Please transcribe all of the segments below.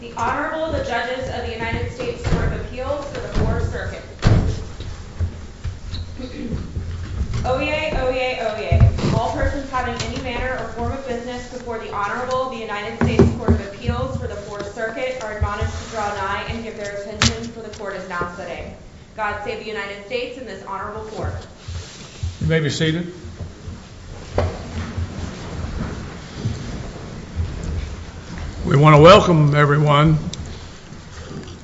The Honorable, the Judges of the United States Court of Appeals for the 4th Circuit. Oyez, oyez, oyez. All persons having any manner or form of business before the Honorable, the United States Court of Appeals for the 4th Circuit are admonished to draw nigh and give their attention, for the Court is now sitting. God save the United States and this Honorable Court. You may be seated. We want to welcome everyone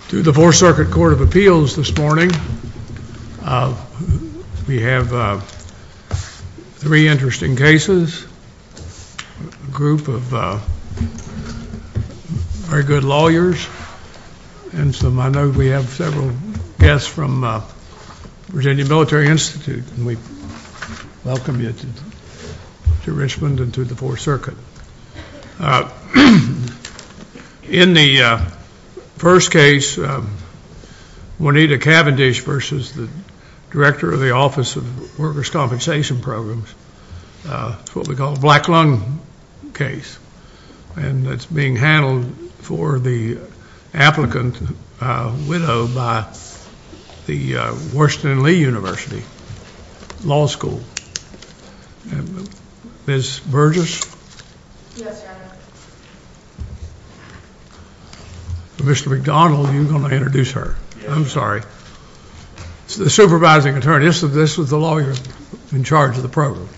to the 4th Circuit Court of Appeals this morning. We have three interesting cases, a group of very good lawyers, and so I know we have several guests from Virginia Military Institute, and we welcome you to Richmond and to the 4th Circuit. In the first case, Juanita Cavendish v. Director of the Office of Workers' Compensation Programs. It's what we call a black lung case, and it's being handled for the applicant widow by the Washington and Lee University Law School. Ms. Burgess? Yes, Your Honor. Mr. McDonald, you're going to introduce her. I'm sorry. The supervising attorney. This is the lawyer in charge of the program.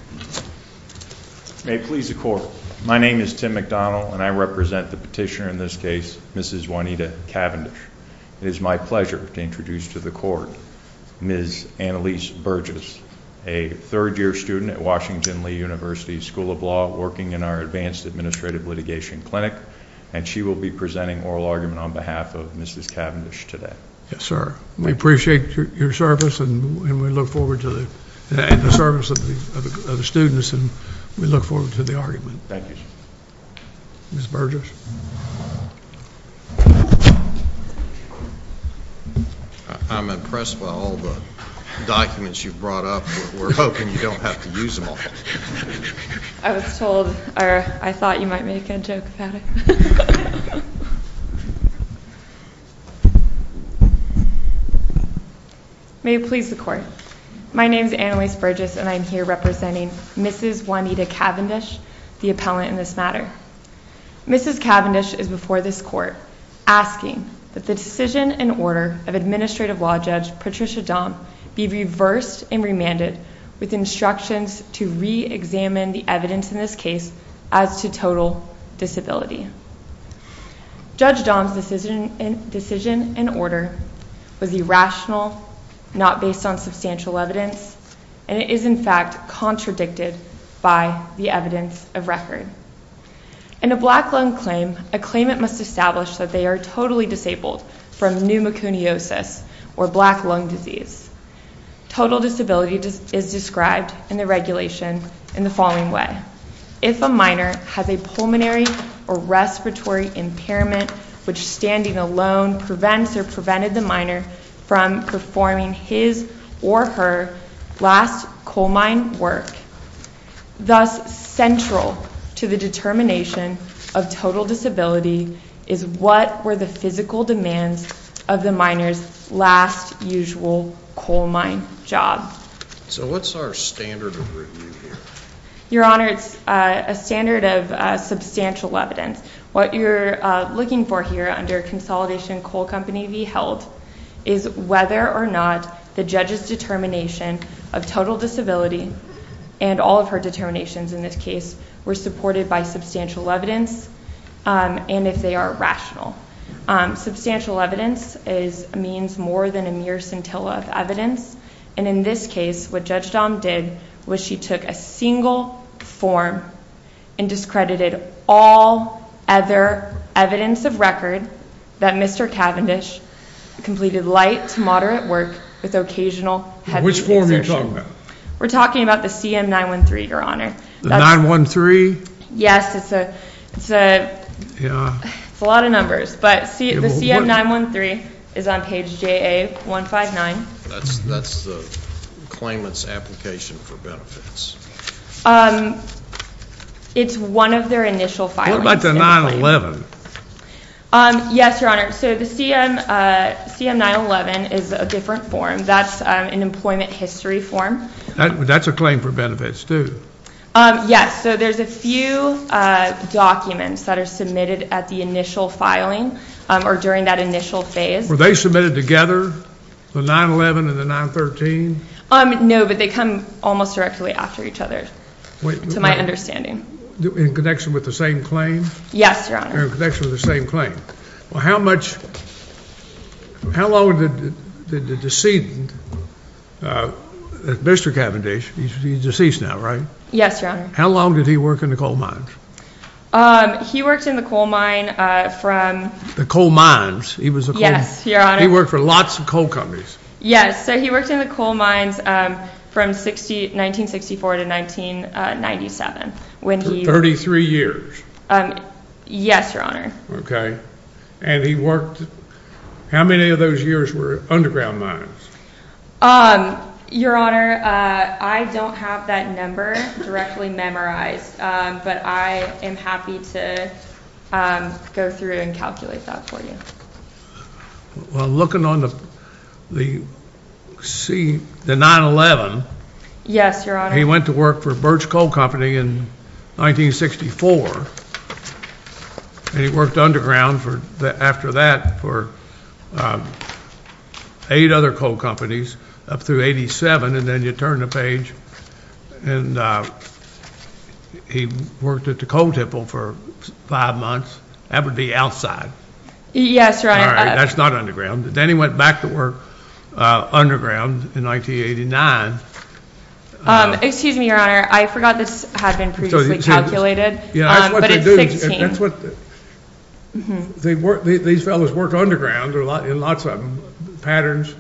May it please the Court. My name is Tim McDonald and I represent the petitioner in this case, Mrs. Juanita Cavendish. It is my pleasure to introduce to the Court Ms. Annalise Burgess, a third-year student at Washington and Lee University School of Law, working in our Advanced Administrative Litigation Clinic, and she will be presenting oral argument on behalf of Mrs. Cavendish today. Yes, sir. We appreciate your service and we look forward to the service of the students and we look forward to the argument. Thank you, sir. Ms. Burgess? I'm impressed by all the documents you've brought up. We're hoping you don't have to use them all. I was told, or I thought you might make a joke about it. May it please the Court. My name is Annalise Burgess and I'm here representing Mrs. Juanita Cavendish, the appellant in this matter. Mrs. Cavendish is before this Court asking that the decision and order of Administrative Law Judge Patricia Dahm be reversed and remanded with instructions to re-examine the evidence in this case as to total disability. Judge Dahm's decision and order was irrational, not based on substantial evidence, and it is, in fact, contradicted by the evidence of record. In a black lung claim, a claimant must establish that they are totally disabled from pneumoconiosis, or black lung disease. Total disability is described in the regulation in the following way. If a minor has a pulmonary or respiratory impairment which standing alone prevents or prevented the minor from performing his or her last coal mine work, thus central to the determination of total disability is what were the physical demands of the minor's last usual coal mine job. So what's our standard of review here? And all of her determinations in this case were supported by substantial evidence, and if they are rational. Substantial evidence means more than a mere scintilla of evidence, and in this case, what Judge Dahm did was she took a single form and discredited all other evidence of record that Mr. Cavendish completed light to moderate work with occasional heavy taxation. Which form are you talking about? We're talking about the CM-913, Your Honor. The 913? Yes, it's a lot of numbers, but the CM-913 is on page JA-159. That's the claimant's application for benefits. It's one of their initial filings. What about the 911? Yes, Your Honor, so the CM-911 is a different form. That's an employment history form. That's a claim for benefits, too. Yes, so there's a few documents that are submitted at the initial filing or during that initial phase. Were they submitted together, the 911 and the 913? No, but they come almost directly after each other, to my understanding. In connection with the same claim? Yes, Your Honor. In connection with the same claim. How long did the decedent, Mr. Cavendish, he's deceased now, right? Yes, Your Honor. How long did he work in the coal mines? He worked in the coal mine from... The coal mines? Yes, Your Honor. He worked for lots of coal companies. Yes, so he worked in the coal mines from 1964 to 1997. 33 years. Yes, Your Honor. Okay, and he worked... How many of those years were underground mines? Your Honor, I don't have that number directly memorized, but I am happy to go through and calculate that for you. Well, looking on the 911... Yes, Your Honor. He went to work for Birch Coal Company in 1964, and he worked underground after that for 8 other coal companies up through 87, and then you turn the page and he worked at the coal temple for 5 months. That would be outside. Yes, Your Honor. All right, that's not underground. Then he went back to work underground in 1989. Excuse me, Your Honor. I forgot this had been previously calculated, but it's 16. That's what they do. These fellows worked underground in lots of patterns,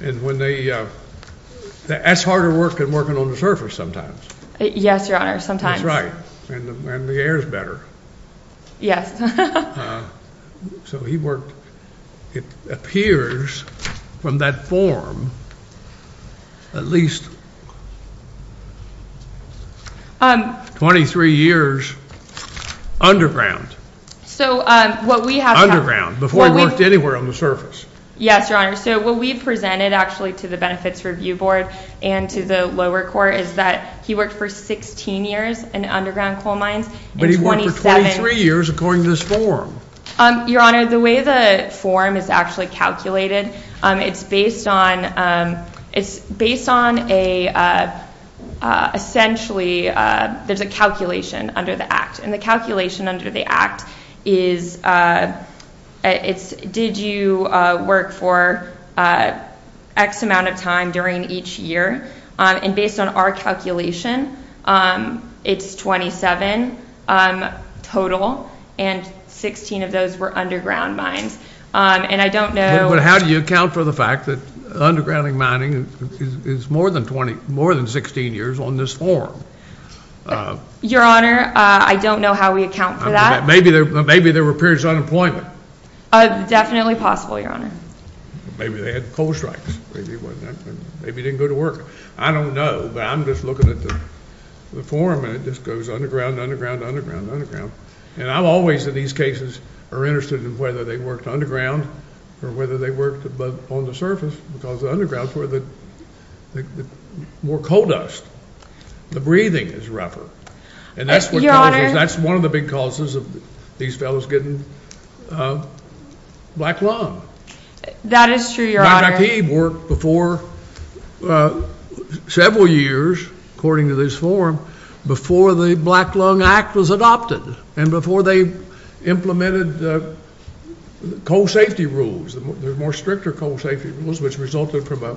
and that's harder work than working on the surface sometimes. Yes, Your Honor, sometimes. That's right, and the air is better. Yes. So he worked, it appears, from that form at least 23 years underground. So what we have... Underground, before he worked anywhere on the surface. Yes, Your Honor. So what we've presented actually to the Benefits Review Board and to the lower court is that he worked for 16 years in underground coal mines. But he worked for 23 years according to this form. Your Honor, the way the form is actually calculated, it's based on a, essentially, there's a calculation under the Act, and the calculation under the Act is did you work for X amount of time during each year, and based on our calculation, it's 27 total, and 16 of those were underground mines, and I don't know... But how do you account for the fact that underground mining is more than 16 years on this form? Your Honor, I don't know how we account for that. Maybe there were periods of unemployment. Definitely possible, Your Honor. Maybe they had coal strikes, maybe it wasn't that, maybe they didn't go to work. I don't know, but I'm just looking at the form, and it just goes underground, underground, underground, underground. And I'm always, in these cases, are interested in whether they worked underground or whether they worked on the surface, because the undergrounds were the more coal dust. The breathing is rougher. Your Honor... That is true, Your Honor.... worked before several years, according to this form, before the Black Lung Act was adopted, and before they implemented the coal safety rules, the more stricter coal safety rules, which resulted from a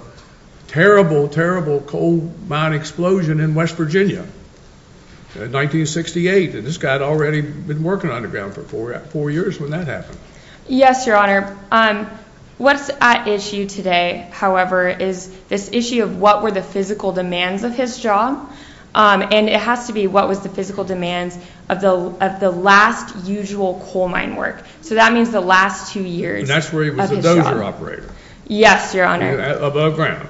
terrible, terrible coal mine explosion in West Virginia in 1968, and this guy had already been working underground for four years when that happened. Yes, Your Honor. What's at issue today, however, is this issue of what were the physical demands of his job, and it has to be what was the physical demands of the last usual coal mine work. So that means the last two years of his job. And that's where he was a dozer operator. Yes, Your Honor. Above ground.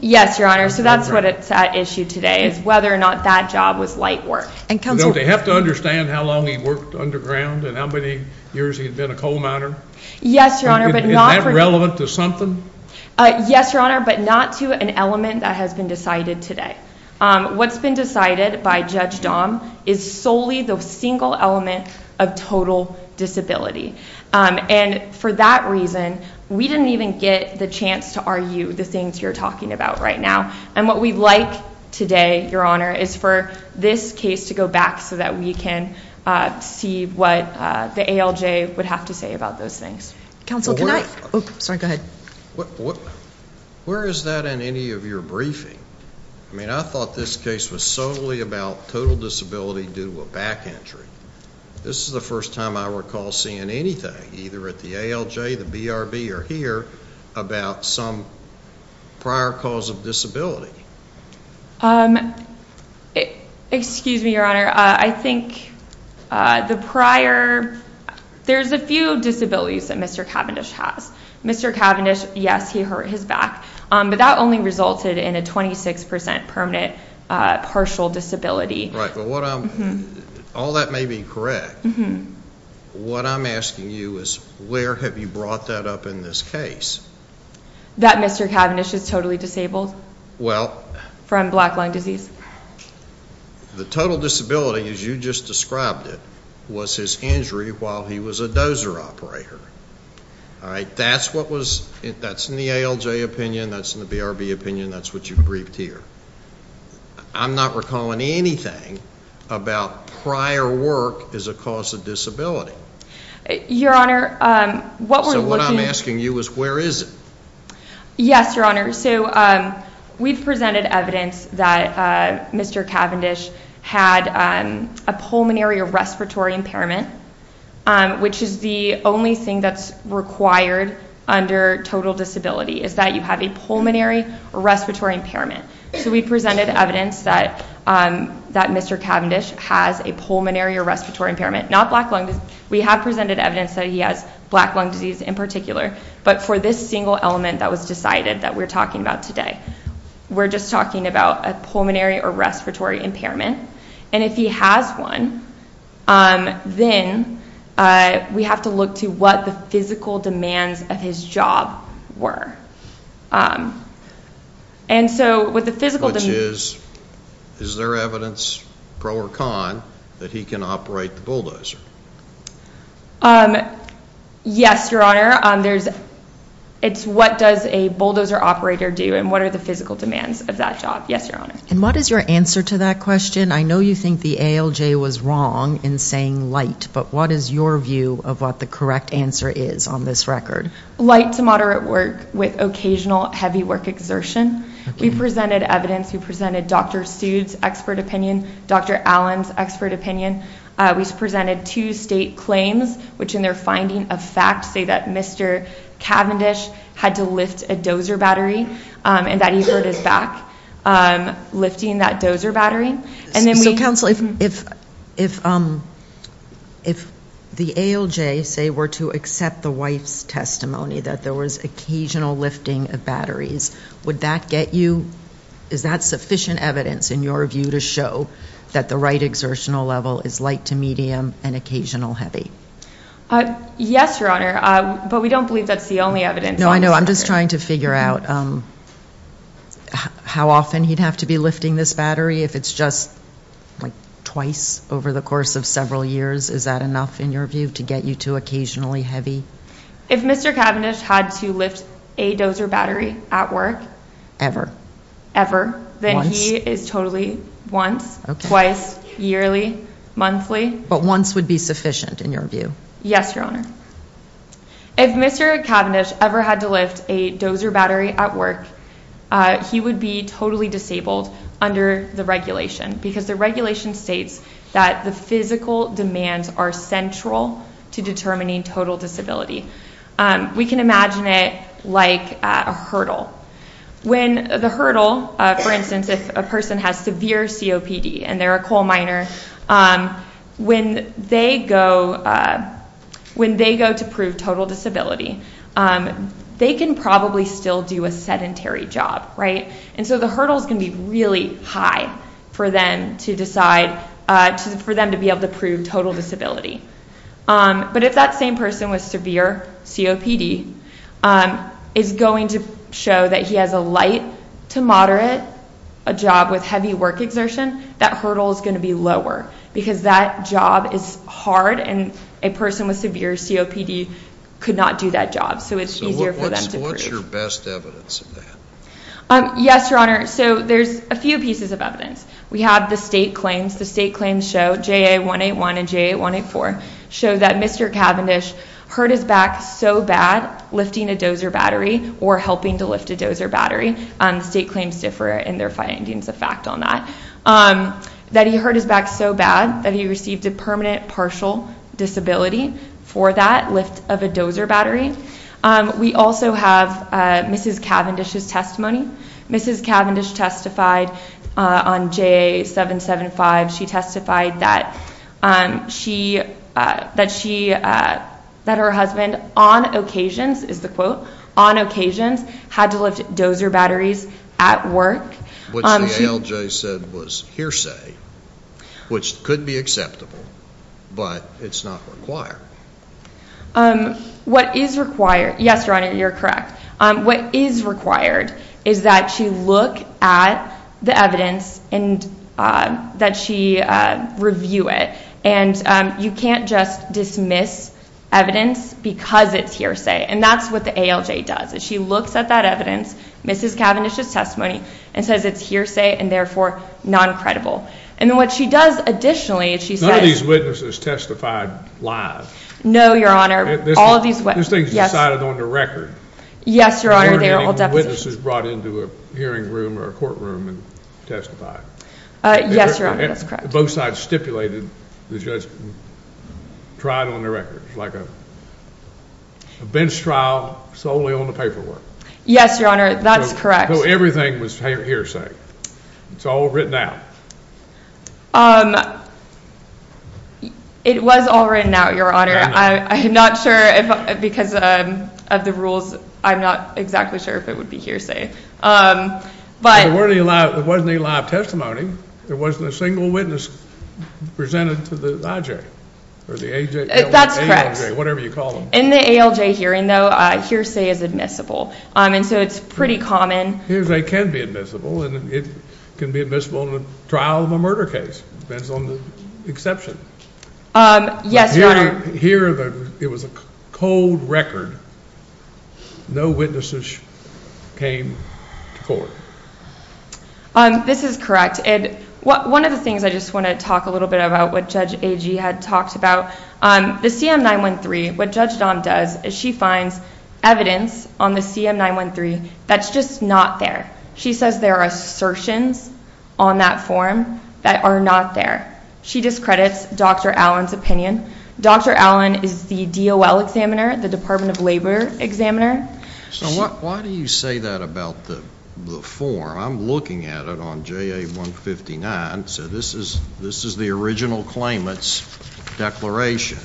Yes, Your Honor, so that's what's at issue today, is whether or not that job was light work. Don't they have to understand how long he worked underground and how many years he had been a coal miner? Yes, Your Honor. Is that relevant to something? Yes, Your Honor, but not to an element that has been decided today. What's been decided by Judge Dahm is solely the single element of total disability. And for that reason, we didn't even get the chance to argue the things you're talking about right now. And what we'd like today, Your Honor, is for this case to go back so that we can see what the ALJ would have to say about those things. Counsel, can I? Sorry, go ahead. Where is that in any of your briefing? I mean, I thought this case was solely about total disability due to a back entry. This is the first time I recall seeing anything, either at the ALJ, the BRB, or here, about some prior cause of disability. Excuse me, Your Honor. I think the prior, there's a few disabilities that Mr. Cavendish has. Mr. Cavendish, yes, he hurt his back, but that only resulted in a 26% permanent partial disability. Right, but what I'm, all that may be correct. What I'm asking you is where have you brought that up in this case? That Mr. Cavendish is totally disabled from black lung disease. The total disability, as you just described it, was his injury while he was a dozer operator. That's what was, that's in the ALJ opinion, that's in the BRB opinion, that's what you've briefed here. I'm not recalling anything about prior work as a cause of disability. Your Honor, what we're looking. So what I'm asking you is where is it? Yes, Your Honor. So we've presented evidence that Mr. Cavendish had a pulmonary or respiratory impairment, which is the only thing that's required under total disability, is that you have a pulmonary or respiratory impairment. So we presented evidence that Mr. Cavendish has a pulmonary or respiratory impairment, not black lung disease. We have presented evidence that he has black lung disease in particular, but for this single element that was decided that we're talking about today. We're just talking about a pulmonary or respiratory impairment, and if he has one, then we have to look to what the physical demands of his job were. And so with the physical demands. Which is, is there evidence, pro or con, that he can operate the bulldozer? Yes, Your Honor. It's what does a bulldozer operator do and what are the physical demands of that job. Yes, Your Honor. And what is your answer to that question? I know you think the ALJ was wrong in saying light, but what is your view of what the correct answer is on this record? Light to moderate work with occasional heavy work exertion. We presented evidence, we presented Dr. Seuss' expert opinion, Dr. Allen's expert opinion. We presented two state claims, which in their finding of fact say that Mr. Cavendish had to lift a dozer battery and that he hurt his back lifting that dozer battery. So, Counsel, if the ALJ, say, were to accept the wife's testimony that there was occasional lifting of batteries, would that get you, is that sufficient evidence in your view to show that the right exertional level is light to medium and occasional heavy? Yes, Your Honor, but we don't believe that's the only evidence. No, I know. I'm just trying to figure out how often he'd have to be lifting this battery. If it's just like twice over the course of several years, is that enough in your view to get you to occasionally heavy? If Mr. Cavendish had to lift a dozer battery at work ever, ever, then he is totally once, twice, yearly, monthly. But once would be sufficient in your view? Yes, Your Honor. If Mr. Cavendish ever had to lift a dozer battery at work, he would be totally disabled under the regulation because the regulation states that the physical demands are central to determining total disability. We can imagine it like a hurdle. When the hurdle, for instance, if a person has severe COPD and they're a coal miner, when they go to prove total disability, they can probably still do a sedentary job, right? And so the hurdle is going to be really high for them to decide, for them to be able to prove total disability. But if that same person with severe COPD is going to show that he has a light to moderate job with heavy work exertion, that hurdle is going to be lower because that job is hard and a person with severe COPD could not do that job. So it's easier for them to prove. So what's your best evidence of that? Yes, Your Honor. So there's a few pieces of evidence. We have the state claims. The state claims show, JA181 and JA184, show that Mr. Cavendish hurt his back so bad lifting a dozer battery or helping to lift a dozer battery. State claims differ in their findings of fact on that. That he hurt his back so bad that he received a permanent partial disability for that lift of a dozer battery. We also have Mrs. Cavendish's testimony. Mrs. Cavendish testified on JA775. She testified that she, that her husband on occasions, is the quote, on occasions had to lift dozer batteries at work. Which the ALJ said was hearsay, which could be acceptable, but it's not required. What is required, yes, Your Honor, you're correct. What is required is that she look at the evidence and that she review it. And you can't just dismiss evidence because it's hearsay. And that's what the ALJ does. She looks at that evidence, Mrs. Cavendish's testimony, and says it's hearsay and therefore non-credible. And then what she does additionally is she says None of these witnesses testified live. No, Your Honor. All of these witnesses. These things are decided on the record. Yes, Your Honor, they are all depositions. They weren't any witnesses brought into a hearing room or a courtroom and testified. Yes, Your Honor, that's correct. Both sides stipulated the judge tried on the records, like a bench trial solely on the paperwork. Yes, Your Honor, that's correct. So everything was hearsay. It's all written out. It was all written out, Your Honor. I'm not sure because of the rules, I'm not exactly sure if it would be hearsay. It wasn't a live testimony. There wasn't a single witness presented to the IJ or the ALJ, whatever you call them. That's correct. In the ALJ hearing, though, hearsay is admissible, and so it's pretty common. Hearsay can be admissible, and it can be admissible in a trial of a murder case. It depends on the exception. Yes, Your Honor. Here it was a cold record. No witnesses came to court. This is correct. One of the things I just want to talk a little bit about what Judge Agee had talked about, the CM-913, what Judge Dahm does is she finds evidence on the CM-913 that's just not there. She says there are assertions on that form that are not there. She discredits Dr. Allen's opinion. Dr. Allen is the DOL examiner, the Department of Labor examiner. Why do you say that about the form? I'm looking at it on JA-159, so this is the original claimant's declaration,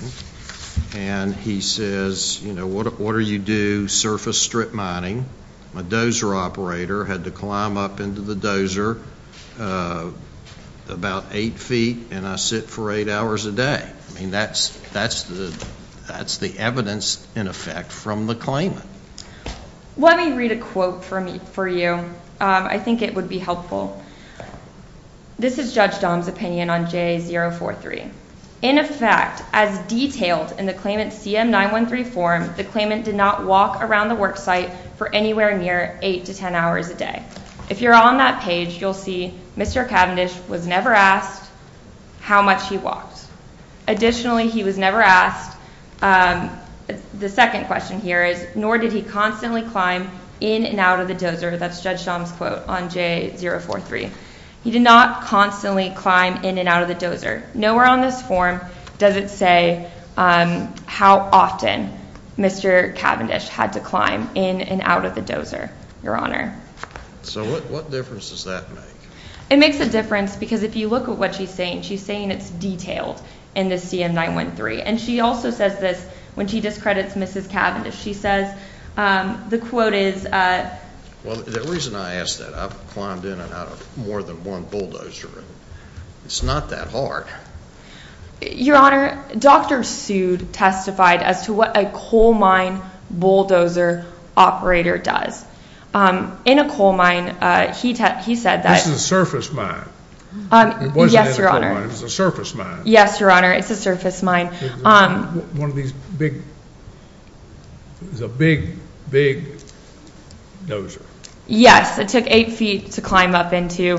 and he says, you know, what do you do? Surface strip mining. My dozer operator had to climb up into the dozer about eight feet, and I sit for eight hours a day. I mean, that's the evidence, in effect, from the claimant. Let me read a quote for you. I think it would be helpful. This is Judge Dahm's opinion on JA-043. In effect, as detailed in the claimant's CM-913 form, the claimant did not walk around the worksite for anywhere near eight to ten hours a day. If you're on that page, you'll see Mr. Cavendish was never asked how much he walked. Additionally, he was never asked, the second question here is, nor did he constantly climb in and out of the dozer. That's Judge Dahm's quote on JA-043. He did not constantly climb in and out of the dozer. Nowhere on this form does it say how often Mr. Cavendish had to climb in and out of the dozer, Your Honor. So what difference does that make? It makes a difference because if you look at what she's saying, she's saying it's detailed in the CM-913. And she also says this when she discredits Mrs. Cavendish. She says the quote is— Well, the reason I ask that, I've climbed in and out of more than one bulldozer, it's not that hard. Your Honor, Dr. Seward testified as to what a coal mine bulldozer operator does. In a coal mine, he said that— This is a surface mine. Yes, Your Honor. It wasn't in a coal mine, it was a surface mine. Yes, Your Honor, it's a surface mine. One of these big—it was a big, big dozer. Yes, it took eight feet to climb up into.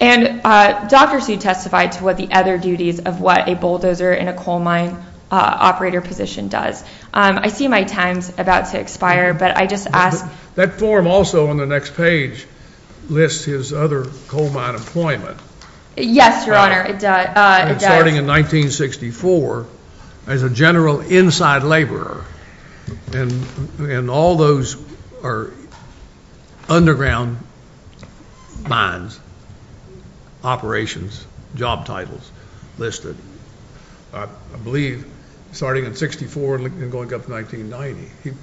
And Dr. Seward testified to what the other duties of what a bulldozer in a coal mine operator position does. I see my time's about to expire, but I just ask— That form also on the next page lists his other coal mine employment. Yes, Your Honor, it does. Starting in 1964 as a general inside laborer. And all those are underground mines, operations, job titles listed. I believe starting in 64 and going up to 1990.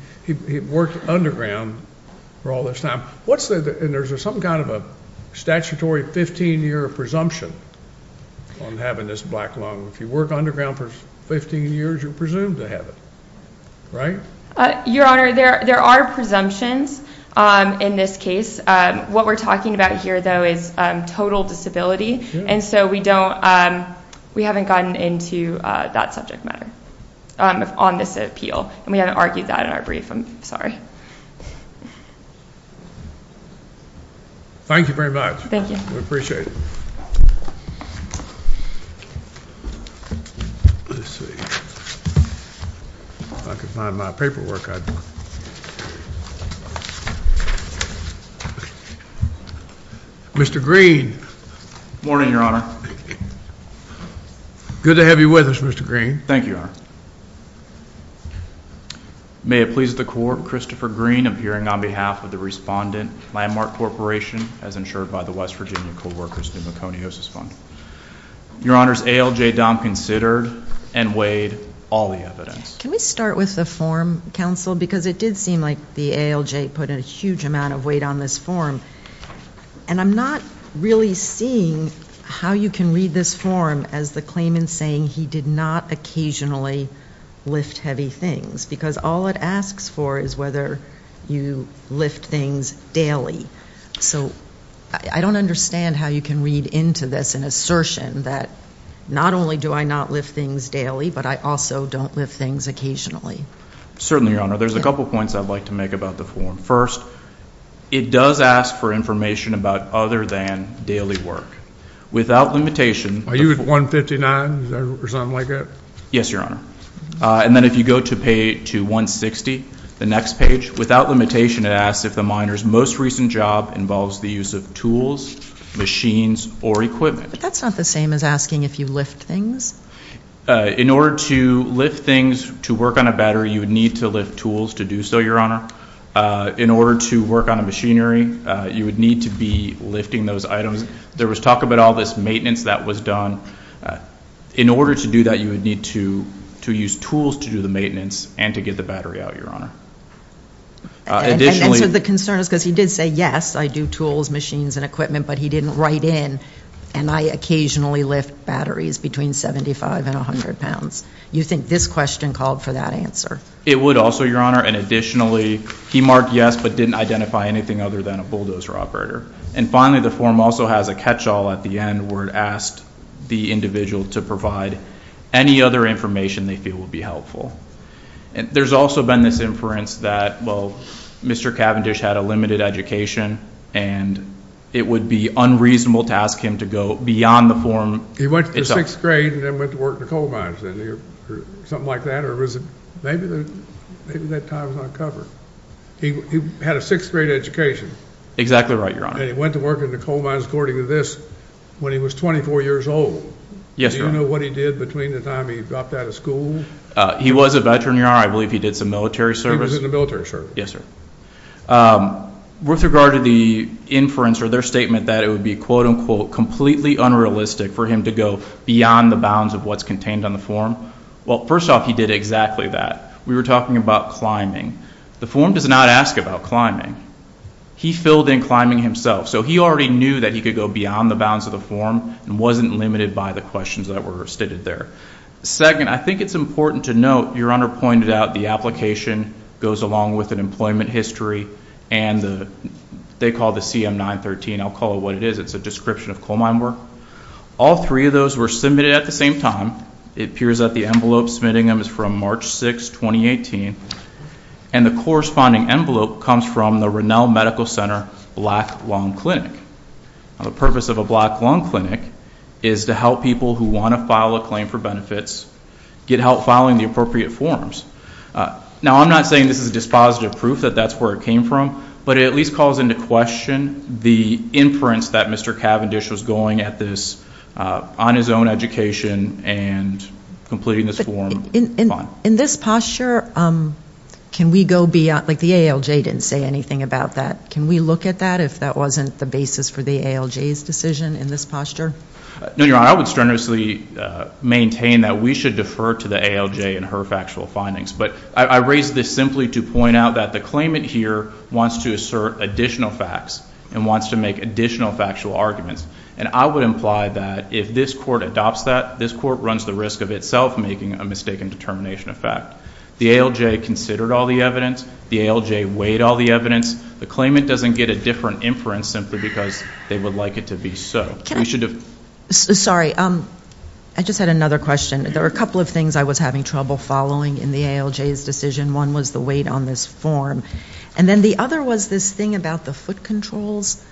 He worked underground for all this time. And there's some kind of a statutory 15-year presumption on having this black lung. If you work underground for 15 years, you're presumed to have it, right? Your Honor, there are presumptions in this case. What we're talking about here, though, is total disability. And so we don't—we haven't gotten into that subject matter on this appeal. And we haven't argued that in our brief. I'm sorry. Thank you very much. Thank you. We appreciate it. Let's see. If I could find my paperwork, I'd— Mr. Green. Good morning, Your Honor. Good to have you with us, Mr. Green. Thank you, Your Honor. May it please the Court, Christopher Green, appearing on behalf of the Respondent Landmark Corporation as insured by the West Virginia Co-workers' Pneumoconiosis Fund. Your Honor, ALJ Dom considered and weighed all the evidence. Can we start with the form, counsel? Because it did seem like the ALJ put a huge amount of weight on this form. And I'm not really seeing how you can read this form as the claimant saying he did not occasionally lift heavy things. Because all it asks for is whether you lift things daily. So I don't understand how you can read into this an assertion that not only do I not lift things daily, but I also don't lift things occasionally. Certainly, Your Honor. There's a couple points I'd like to make about the form. First, it does ask for information about other than daily work. Without limitation— Are you at 159 or something like that? Yes, Your Honor. And then if you go to page 160, the next page, without limitation, it asks if the miner's most recent job involves the use of tools, machines, or equipment. But that's not the same as asking if you lift things. In order to lift things to work on a battery, you would need to lift tools to do so, Your Honor. In order to work on a machinery, you would need to be lifting those items. There was talk about all this maintenance that was done. In order to do that, you would need to use tools to do the maintenance and to get the battery out, Your Honor. And so the concern is because he did say, yes, I do tools, machines, and equipment, but he didn't write in, and I occasionally lift batteries between 75 and 100 pounds. You think this question called for that answer? It would also, Your Honor. And additionally, he marked yes, but didn't identify anything other than a bulldozer operator. And finally, the form also has a catch-all at the end where it asked the individual to provide any other information they feel would be helpful. There's also been this inference that, well, Mr. Cavendish had a limited education, and it would be unreasonable to ask him to go beyond the form. He went to sixth grade and then went to work in a coal mine or something like that, or maybe that time was not covered. He had a sixth grade education. Exactly right, Your Honor. And he went to work in a coal mine, according to this, when he was 24 years old. Yes, sir. Do you know what he did between the time he dropped out of school? He was a veteran, Your Honor. I believe he did some military service. He was in the military, sir. Yes, sir. With regard to the inference or their statement that it would be, quote, unquote, completely unrealistic for him to go beyond the bounds of what's contained on the form, well, first off, he did exactly that. We were talking about climbing. The form does not ask about climbing. He filled in climbing himself. So he already knew that he could go beyond the bounds of the form and wasn't limited by the questions that were stated there. Second, I think it's important to note, Your Honor pointed out, the application goes along with an employment history, and they call it the CM-913. I'll call it what it is. It's a description of coal mine work. All three of those were submitted at the same time. It appears that the envelope submitting them is from March 6, 2018, and the corresponding envelope comes from the Rennell Medical Center Black Lung Clinic. The purpose of a Black Lung Clinic is to help people who want to file a claim for benefits get help filing the appropriate forms. Now, I'm not saying this is dispositive proof that that's where it came from, but it at least calls into question the inference that Mr. Cavendish was going at this on his own education and completing this form. In this posture, can we go beyond, like the ALJ didn't say anything about that. Can we look at that if that wasn't the basis for the ALJ's decision in this posture? No, Your Honor. I would strenuously maintain that we should defer to the ALJ in her factual findings, but I raise this simply to point out that the claimant here wants to assert additional facts and wants to make additional factual arguments, and I would imply that if this court adopts that, this court runs the risk of itself making a mistaken determination of fact. The ALJ considered all the evidence. The ALJ weighed all the evidence. The claimant doesn't get a different inference simply because they would like it to be so. Sorry, I just had another question. There were a couple of things I was having trouble following in the ALJ's decision. One was the weight on this form, and then the other was this thing about the foot controls,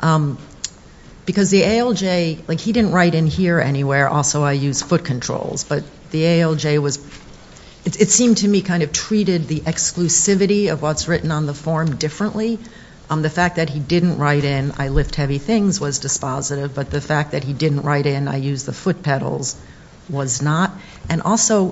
because the ALJ, like he didn't write in here anywhere, also I use foot controls, but the ALJ was, it seemed to me kind of treated the exclusivity of what's written on the form differently. The fact that he didn't write in I lift heavy things was dispositive, but the fact that he didn't write in I use the foot pedals was not. And also,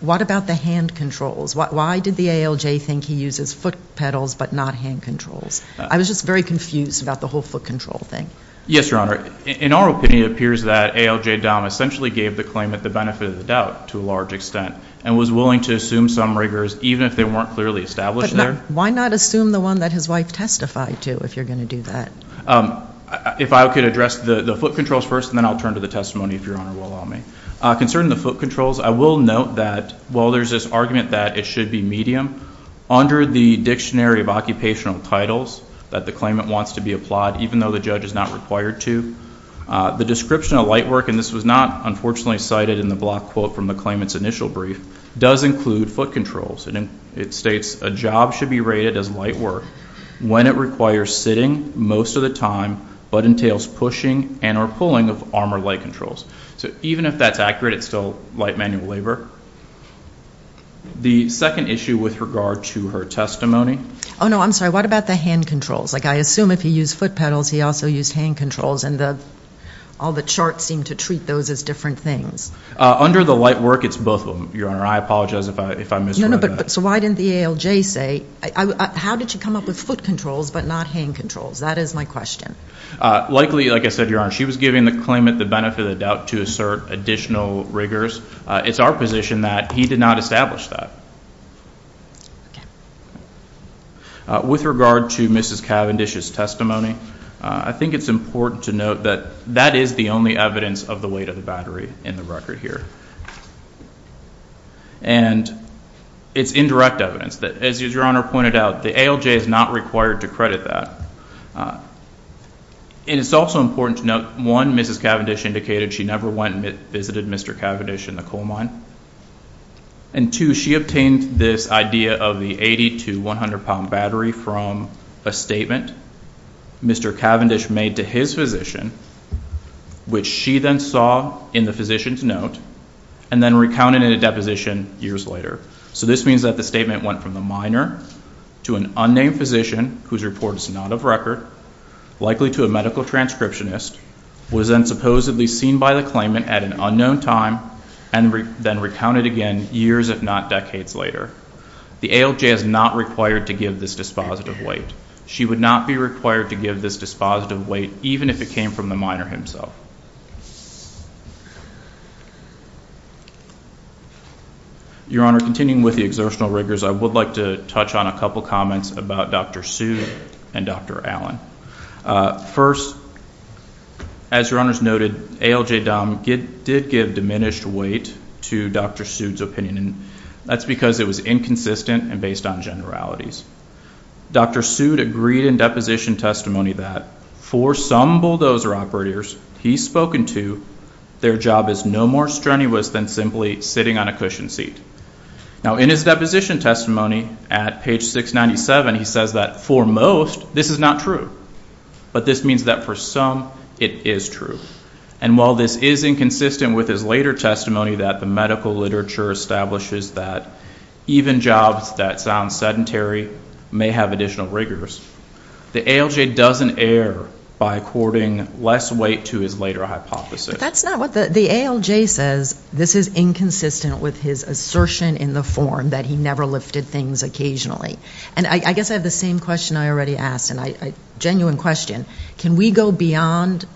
what about the hand controls? Why did the ALJ think he uses foot pedals but not hand controls? I was just very confused about the whole foot control thing. Yes, Your Honor. In our opinion, it appears that ALJ essentially gave the claimant the benefit of the doubt to a large extent and was willing to assume some rigors even if they weren't clearly established there. But why not assume the one that his wife testified to if you're going to do that? If I could address the foot controls first, and then I'll turn to the testimony if Your Honor will allow me. Concerning the foot controls, I will note that while there's this argument that it should be medium, under the Dictionary of Occupational Titles that the claimant wants to be applied even though the judge is not required to, the description of light work, and this was not, unfortunately, cited in the block quote from the claimant's initial brief, does include foot controls. And it states, a job should be rated as light work when it requires sitting most of the time but entails pushing and or pulling of arm or leg controls. So even if that's accurate, it's still light manual labor. The second issue with regard to her testimony. Oh, no, I'm sorry. What about the hand controls? Like, I assume if he used foot pedals, he also used hand controls, and all the charts seem to treat those as different things. Under the light work, it's both of them, Your Honor. I apologize if I misread that. No, no, but so why didn't the ALJ say, how did you come up with foot controls but not hand controls? That is my question. Likely, like I said, Your Honor, she was giving the claimant the benefit of the doubt to assert additional rigors. It's our position that he did not establish that. With regard to Mrs. Cavendish's testimony, I think it's important to note that that is the only evidence of the weight of the battery in the record here. And it's indirect evidence. As Your Honor pointed out, the ALJ is not required to credit that. And it's also important to note, one, Mrs. Cavendish indicated she never went and visited Mr. Cavendish in the coal mine. And, two, she obtained this idea of the 80 to 100-pound battery from a statement Mr. Cavendish made to his physician, which she then saw in the physician's note and then recounted in a deposition years later. So this means that the statement went from the miner to an unnamed physician whose report is not of record, likely to a medical transcriptionist, was then supposedly seen by the claimant at an unknown time, and then recounted again years if not decades later. The ALJ is not required to give this dispositive weight. She would not be required to give this dispositive weight even if it came from the miner himself. Your Honor, continuing with the exertional rigors, I would like to touch on a couple of comments about Dr. Sood and Dr. Allen. First, as Your Honor's noted, ALJ-DOM did give diminished weight to Dr. Sood's opinion. And that's because it was inconsistent and based on generalities. Dr. Sood agreed in deposition testimony that for some bulldozer operators he's spoken to, their job is no more strenuous than simply sitting on a cushion seat. Now, in his deposition testimony at page 697, he says that for most, this is not true. But this means that for some, it is true. And while this is inconsistent with his later testimony that the medical literature establishes that even jobs that sound sedentary may have additional rigors, the ALJ doesn't err by according less weight to his later hypothesis. But that's not what the ALJ says. This is inconsistent with his assertion in the form that he never lifted things occasionally. And I guess I have the same question I already asked, a genuine question. Can we go beyond,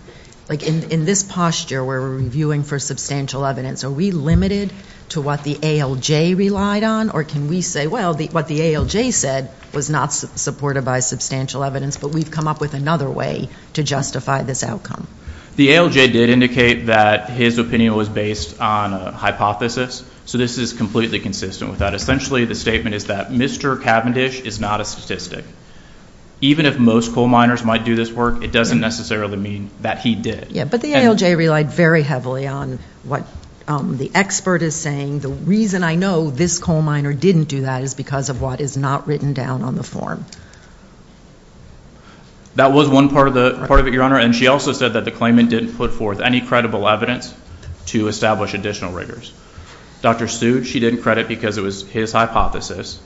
like in this posture where we're reviewing for substantial evidence, are we limited to what the ALJ relied on? Or can we say, well, what the ALJ said was not supported by substantial evidence, but we've come up with another way to justify this outcome? The ALJ did indicate that his opinion was based on a hypothesis. So this is completely consistent with that. Essentially, the statement is that Mr. Cavendish is not a statistic. Even if most coal miners might do this work, it doesn't necessarily mean that he did. But the ALJ relied very heavily on what the expert is saying. The reason I know this coal miner didn't do that is because of what is not written down on the form. That was one part of it, Your Honor, and she also said that the claimant didn't put forth any credible evidence to establish additional rigors. Dr. Stude, she didn't credit because it was his hypothesis.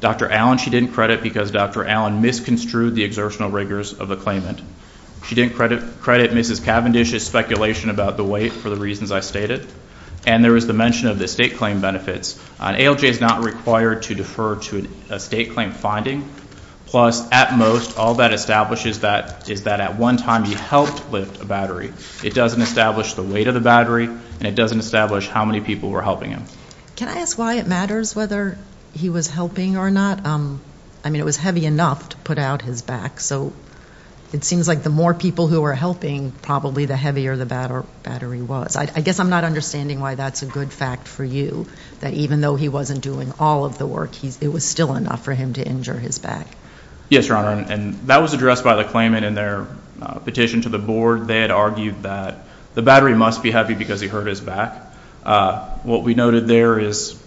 Dr. Allen, she didn't credit because Dr. Allen misconstrued the exertional rigors of the claimant. She didn't credit Mrs. Cavendish's speculation about the weight for the reasons I stated. And there was the mention of the estate claim benefits. An ALJ is not required to defer to an estate claim finding. Plus, at most, all that establishes is that at one time he helped lift a battery. It doesn't establish the weight of the battery, and it doesn't establish how many people were helping him. Can I ask why it matters whether he was helping or not? I mean, it was heavy enough to put out his back, so it seems like the more people who were helping, probably the heavier the battery was. I guess I'm not understanding why that's a good fact for you, that even though he wasn't doing all of the work, it was still enough for him to injure his back. Yes, Your Honor, and that was addressed by the claimant in their petition to the board. They had argued that the battery must be heavy because he hurt his back. What we noted there is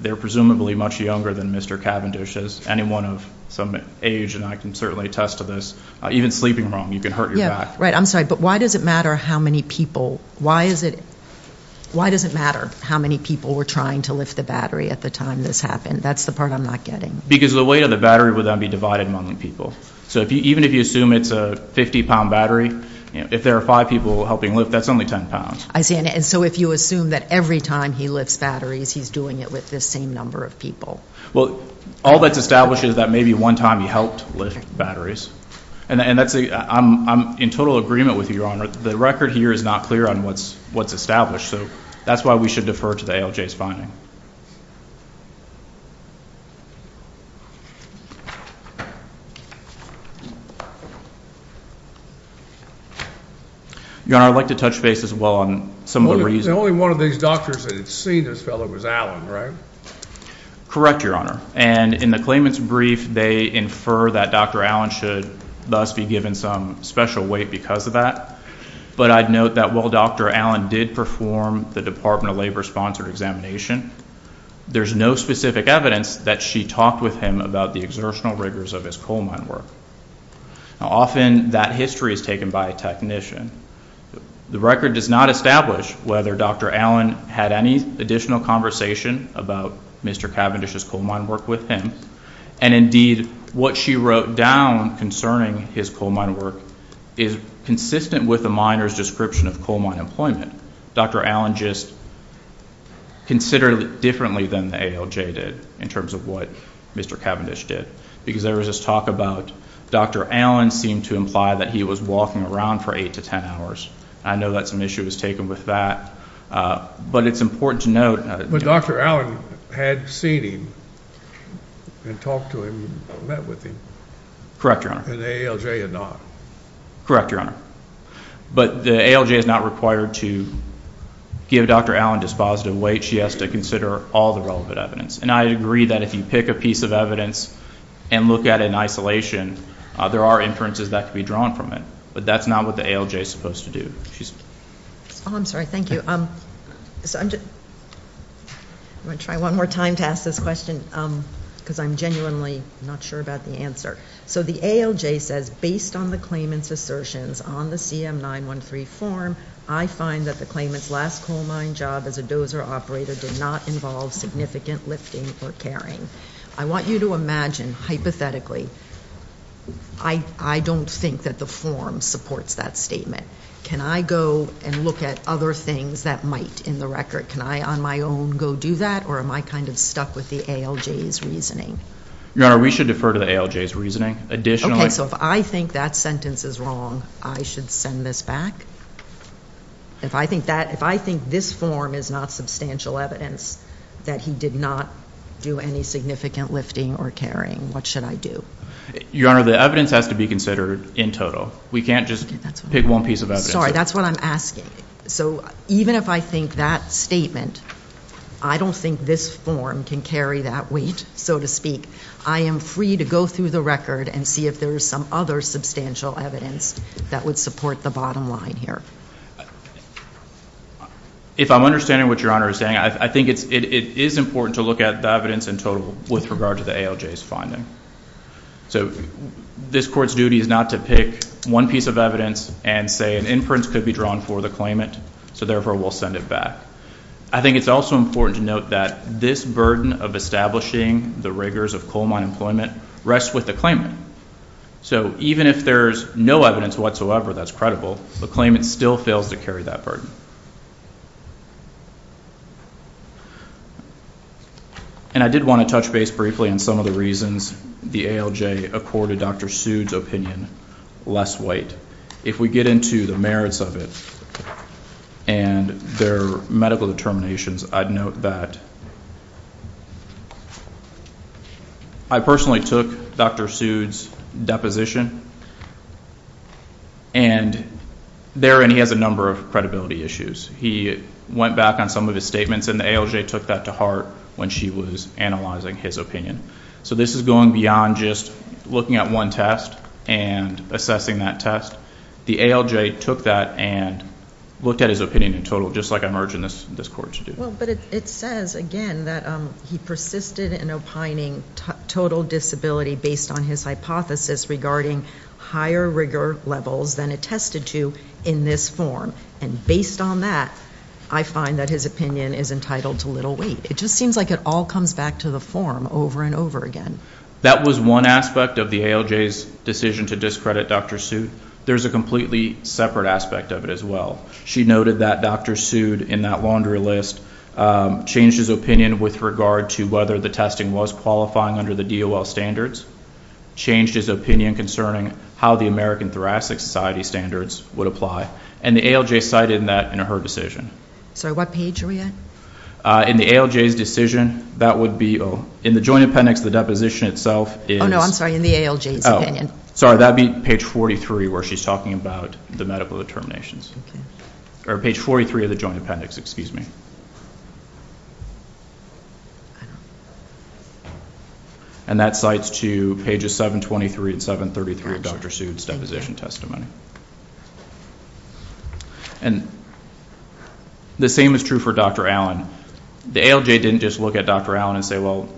they're presumably much younger than Mr. Cavendish. As anyone of some age, and I can certainly attest to this, even sleeping wrong, you can hurt your back. I'm sorry, but why does it matter how many people were trying to lift the battery at the time this happened? That's the part I'm not getting. Because the weight of the battery would then be divided among the people. So even if you assume it's a 50-pound battery, if there are five people helping lift, that's only 10 pounds. I see, and so if you assume that every time he lifts batteries, he's doing it with this same number of people. Well, all that's established is that maybe one time he helped lift batteries. And I'm in total agreement with you, Your Honor. The record here is not clear on what's established, so that's why we should defer to the ALJ's finding. Your Honor, I'd like to touch base as well on some of the reasons. The only one of these doctors that had seen this fellow was Allen, right? Correct, Your Honor. And in the claimant's brief, they infer that Dr. Allen should thus be given some special weight because of that. But I'd note that while Dr. Allen did perform the Department of Labor-sponsored examination, there's no specific evidence that she talked with him about the exertional rigors of his coal mine work. Now, often that history is taken by a technician. The record does not establish whether Dr. Allen had any additional conversation about Mr. Cavendish's coal mine work with him. And indeed, what she wrote down concerning his coal mine work is consistent with the miner's description of coal mine employment. Dr. Allen just considered it differently than the ALJ did in terms of what Mr. Cavendish did. Because there was this talk about Dr. Allen seemed to imply that he was walking around for 8 to 10 hours. I know that some issue was taken with that. But it's important to note. But Dr. Allen had seen him and talked to him and met with him. Correct, Your Honor. And the ALJ had not. Correct, Your Honor. But the ALJ is not required to give Dr. Allen dispositive weight. She has to consider all the relevant evidence. And I agree that if you pick a piece of evidence and look at it in isolation, there are inferences that can be drawn from it. But that's not what the ALJ is supposed to do. I'm sorry. Thank you. I'm going to try one more time to ask this question because I'm genuinely not sure about the answer. So the ALJ says, based on the claimant's assertions on the CM913 form, I find that the claimant's last coal mine job as a dozer operator did not involve significant lifting or carrying. I want you to imagine, hypothetically, I don't think that the form supports that statement. Can I go and look at other things that might in the record? Can I, on my own, go do that? Or am I kind of stuck with the ALJ's reasoning? Your Honor, we should defer to the ALJ's reasoning. Okay, so if I think that sentence is wrong, I should send this back? If I think this form is not substantial evidence that he did not do any significant lifting or carrying, what should I do? Your Honor, the evidence has to be considered in total. We can't just pick one piece of evidence. Sorry, that's what I'm asking. So even if I think that statement, I don't think this form can carry that weight, so to speak. I am free to go through the record and see if there is some other substantial evidence that would support the bottom line here. If I'm understanding what Your Honor is saying, I think it is important to look at the evidence in total with regard to the ALJ's finding. So this Court's duty is not to pick one piece of evidence and say an inference could be drawn for the claimant, so therefore we'll send it back. I think it's also important to note that this burden of establishing the rigors of coal mine employment rests with the claimant. So even if there's no evidence whatsoever that's credible, the claimant still fails to carry that burden. And I did want to touch base briefly on some of the reasons the ALJ accorded Dr. Sude's opinion less weight. If we get into the merits of it and their medical determinations, I'd note that I personally took Dr. Sude's deposition. And he has a number of credibility issues. He went back on some of his statements, and the ALJ took that to heart when she was analyzing his opinion. So this is going beyond just looking at one test and assessing that test. The ALJ took that and looked at his opinion in total, just like I'm urging this Court to do. Well, but it says, again, that he persisted in opining total disability based on his hypothesis regarding higher rigor levels than attested to in this form. And based on that, I find that his opinion is entitled to little weight. It just seems like it all comes back to the form over and over again. That was one aspect of the ALJ's decision to discredit Dr. Sude. There's a completely separate aspect of it as well. She noted that Dr. Sude, in that laundry list, changed his opinion with regard to whether the testing was qualifying under the DOL standards, changed his opinion concerning how the American Thoracic Society standards would apply, and the ALJ cited that in her decision. Sorry, what page are we at? In the ALJ's decision, that would be in the Joint Appendix, the deposition itself is... Oh, no, I'm sorry, in the ALJ's opinion. Sorry, that would be page 43 where she's talking about the medical determinations. Or page 43 of the Joint Appendix, excuse me. And that cites to pages 723 and 733 of Dr. Sude's deposition testimony. And the same is true for Dr. Allen. The ALJ didn't just look at Dr. Allen and say, well,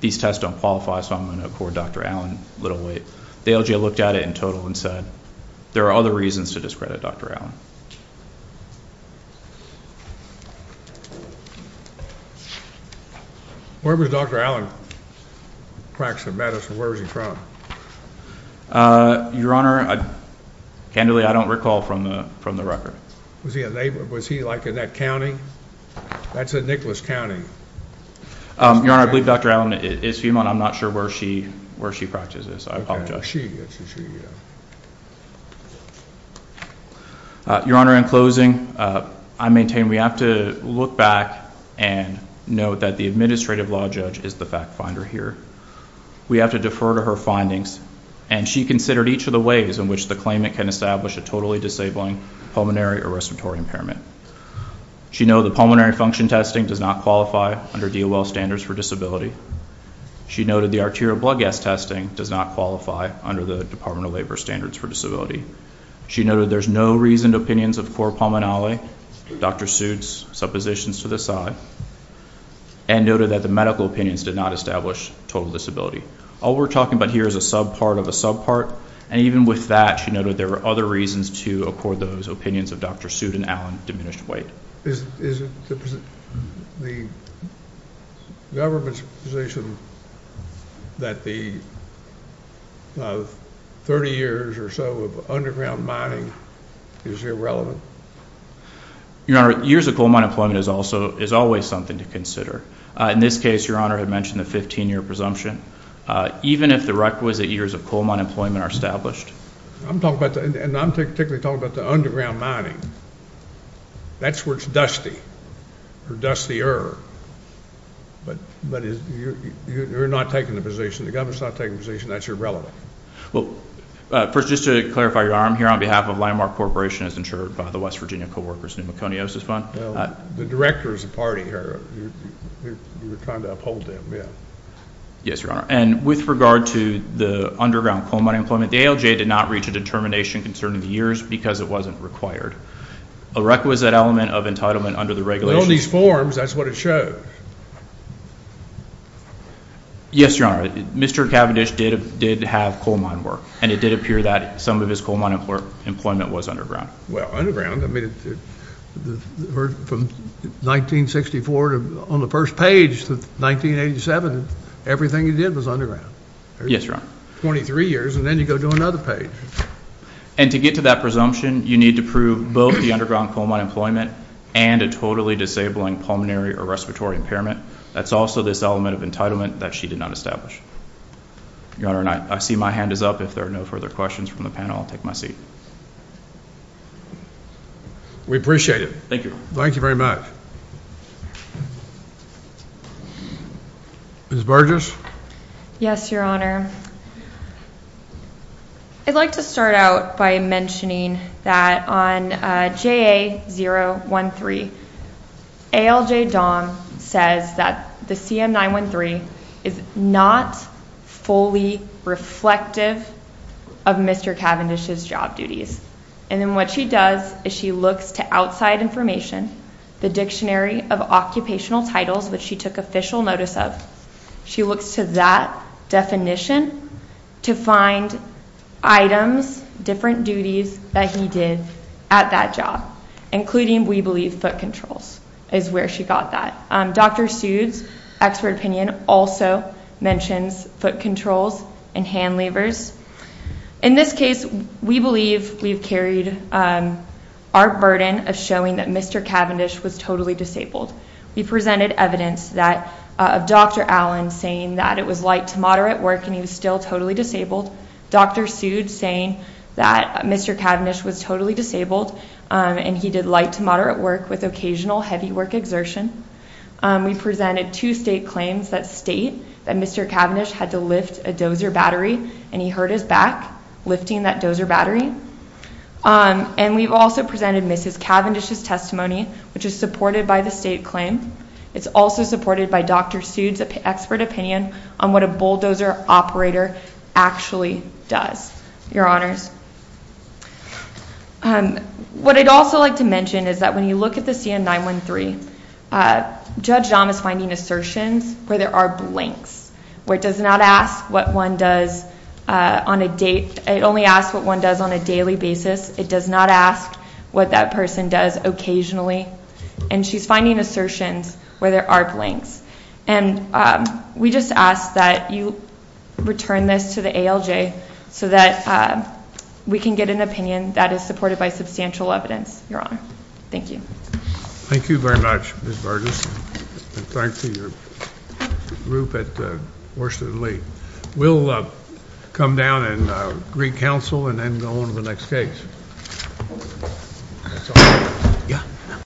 these tests don't qualify, so I'm going to accord Dr. Allen little weight. The ALJ looked at it in total and said, there are other reasons to discredit Dr. Allen. Where was Dr. Allen practicing medicine? Where was he from? Your Honor, candidly, I don't recall from the record. Was he like in that county? That's in Nicholas County. Your Honor, I believe Dr. Allen is female and I'm not sure where she practices. I apologize. She is. Your Honor, in closing, I maintain we have to look back and note that the administrative law judge is the fact finder here. We have to defer to her findings. And she considered each of the ways in which the claimant can establish a totally disabling pulmonary or respiratory impairment. She noted the pulmonary function testing does not qualify under DOL standards for disability. She noted the arterial blood gas testing does not qualify under the Department of Labor standards for disability. She noted there's no reasoned opinions of core pulmonary, Dr. Sude's suppositions to the side. And noted that the medical opinions did not establish total disability. All we're talking about here is a subpart of a subpart. And even with that, she noted there were other reasons to accord those opinions of Dr. Sude and Allen diminished weight. Is it the government's position that the 30 years or so of underground mining is irrelevant? Your Honor, years of coal mine employment is always something to consider. In this case, Your Honor had mentioned the 15-year presumption. Even if the requisite years of coal mine employment are established. I'm talking about the underground mining. That's where it's dusty. Or dustier. But you're not taking the position. The government's not taking the position. That's irrelevant. First, just to clarify, Your Honor, I'm here on behalf of Landmark Corporation, as insured by the West Virginia Co-workers Pneumoconiosis Fund. Well, the director is a party here. You're trying to uphold them, yeah. Yes, Your Honor. And with regard to the underground coal mine employment, the ALJ did not reach a determination concerning the years because it wasn't required. A requisite element of entitlement under the regulations. But on these forms, that's what it shows. Yes, Your Honor. Mr. Cavendish did have coal mine work. And it did appear that some of his coal mine employment was underground. Well, underground, I mean, from 1964 on the first page to 1987, everything he did was underground. Yes, Your Honor. 23 years, and then you go to another page. And to get to that presumption, you need to prove both the underground coal mine employment and a totally disabling pulmonary or respiratory impairment. That's also this element of entitlement that she did not establish. Your Honor, I see my hand is up. If there are no further questions from the panel, I'll take my seat. We appreciate it. Thank you. Thank you very much. Ms. Burgess? Yes, Your Honor. I'd like to start out by mentioning that on JA-013, ALJ Dom says that the CM-913 is not fully reflective of Mr. Cavendish's job duties. And then what she does is she looks to outside information, the Dictionary of Occupational Titles, which she took official notice of. She looks to that definition to find items, different duties that he did at that job, including, we believe, foot controls, is where she got that. Dr. Sude's expert opinion also mentions foot controls and hand levers. In this case, we believe we've carried our burden of showing that Mr. Cavendish was totally disabled. We presented evidence of Dr. Allen saying that it was light to moderate work and he was still totally disabled, Dr. Sude saying that Mr. Cavendish was totally disabled and he did light to moderate work with occasional heavy work exertion. We presented two state claims that state that Mr. Cavendish had to lift a dozer battery and he hurt his back lifting that dozer battery. And we've also presented Mrs. Cavendish's testimony, which is supported by the state claim. It's also supported by Dr. Sude's expert opinion on what a bulldozer operator actually does. Your Honors, what I'd also like to mention is that when you look at the CM913, Judge Dahm is finding assertions where there are blanks, where it does not ask what one does on a date. It only asks what one does on a daily basis. It does not ask what that person does occasionally. And she's finding assertions where there are blanks. And we just ask that you return this to the ALJ so that we can get an opinion that is supported by substantial evidence, Your Honor. Thank you. Thank you very much, Ms. Burgess. And thanks to your group at Worcester and Lee. We'll come down and re-counsel and then go on to the next case.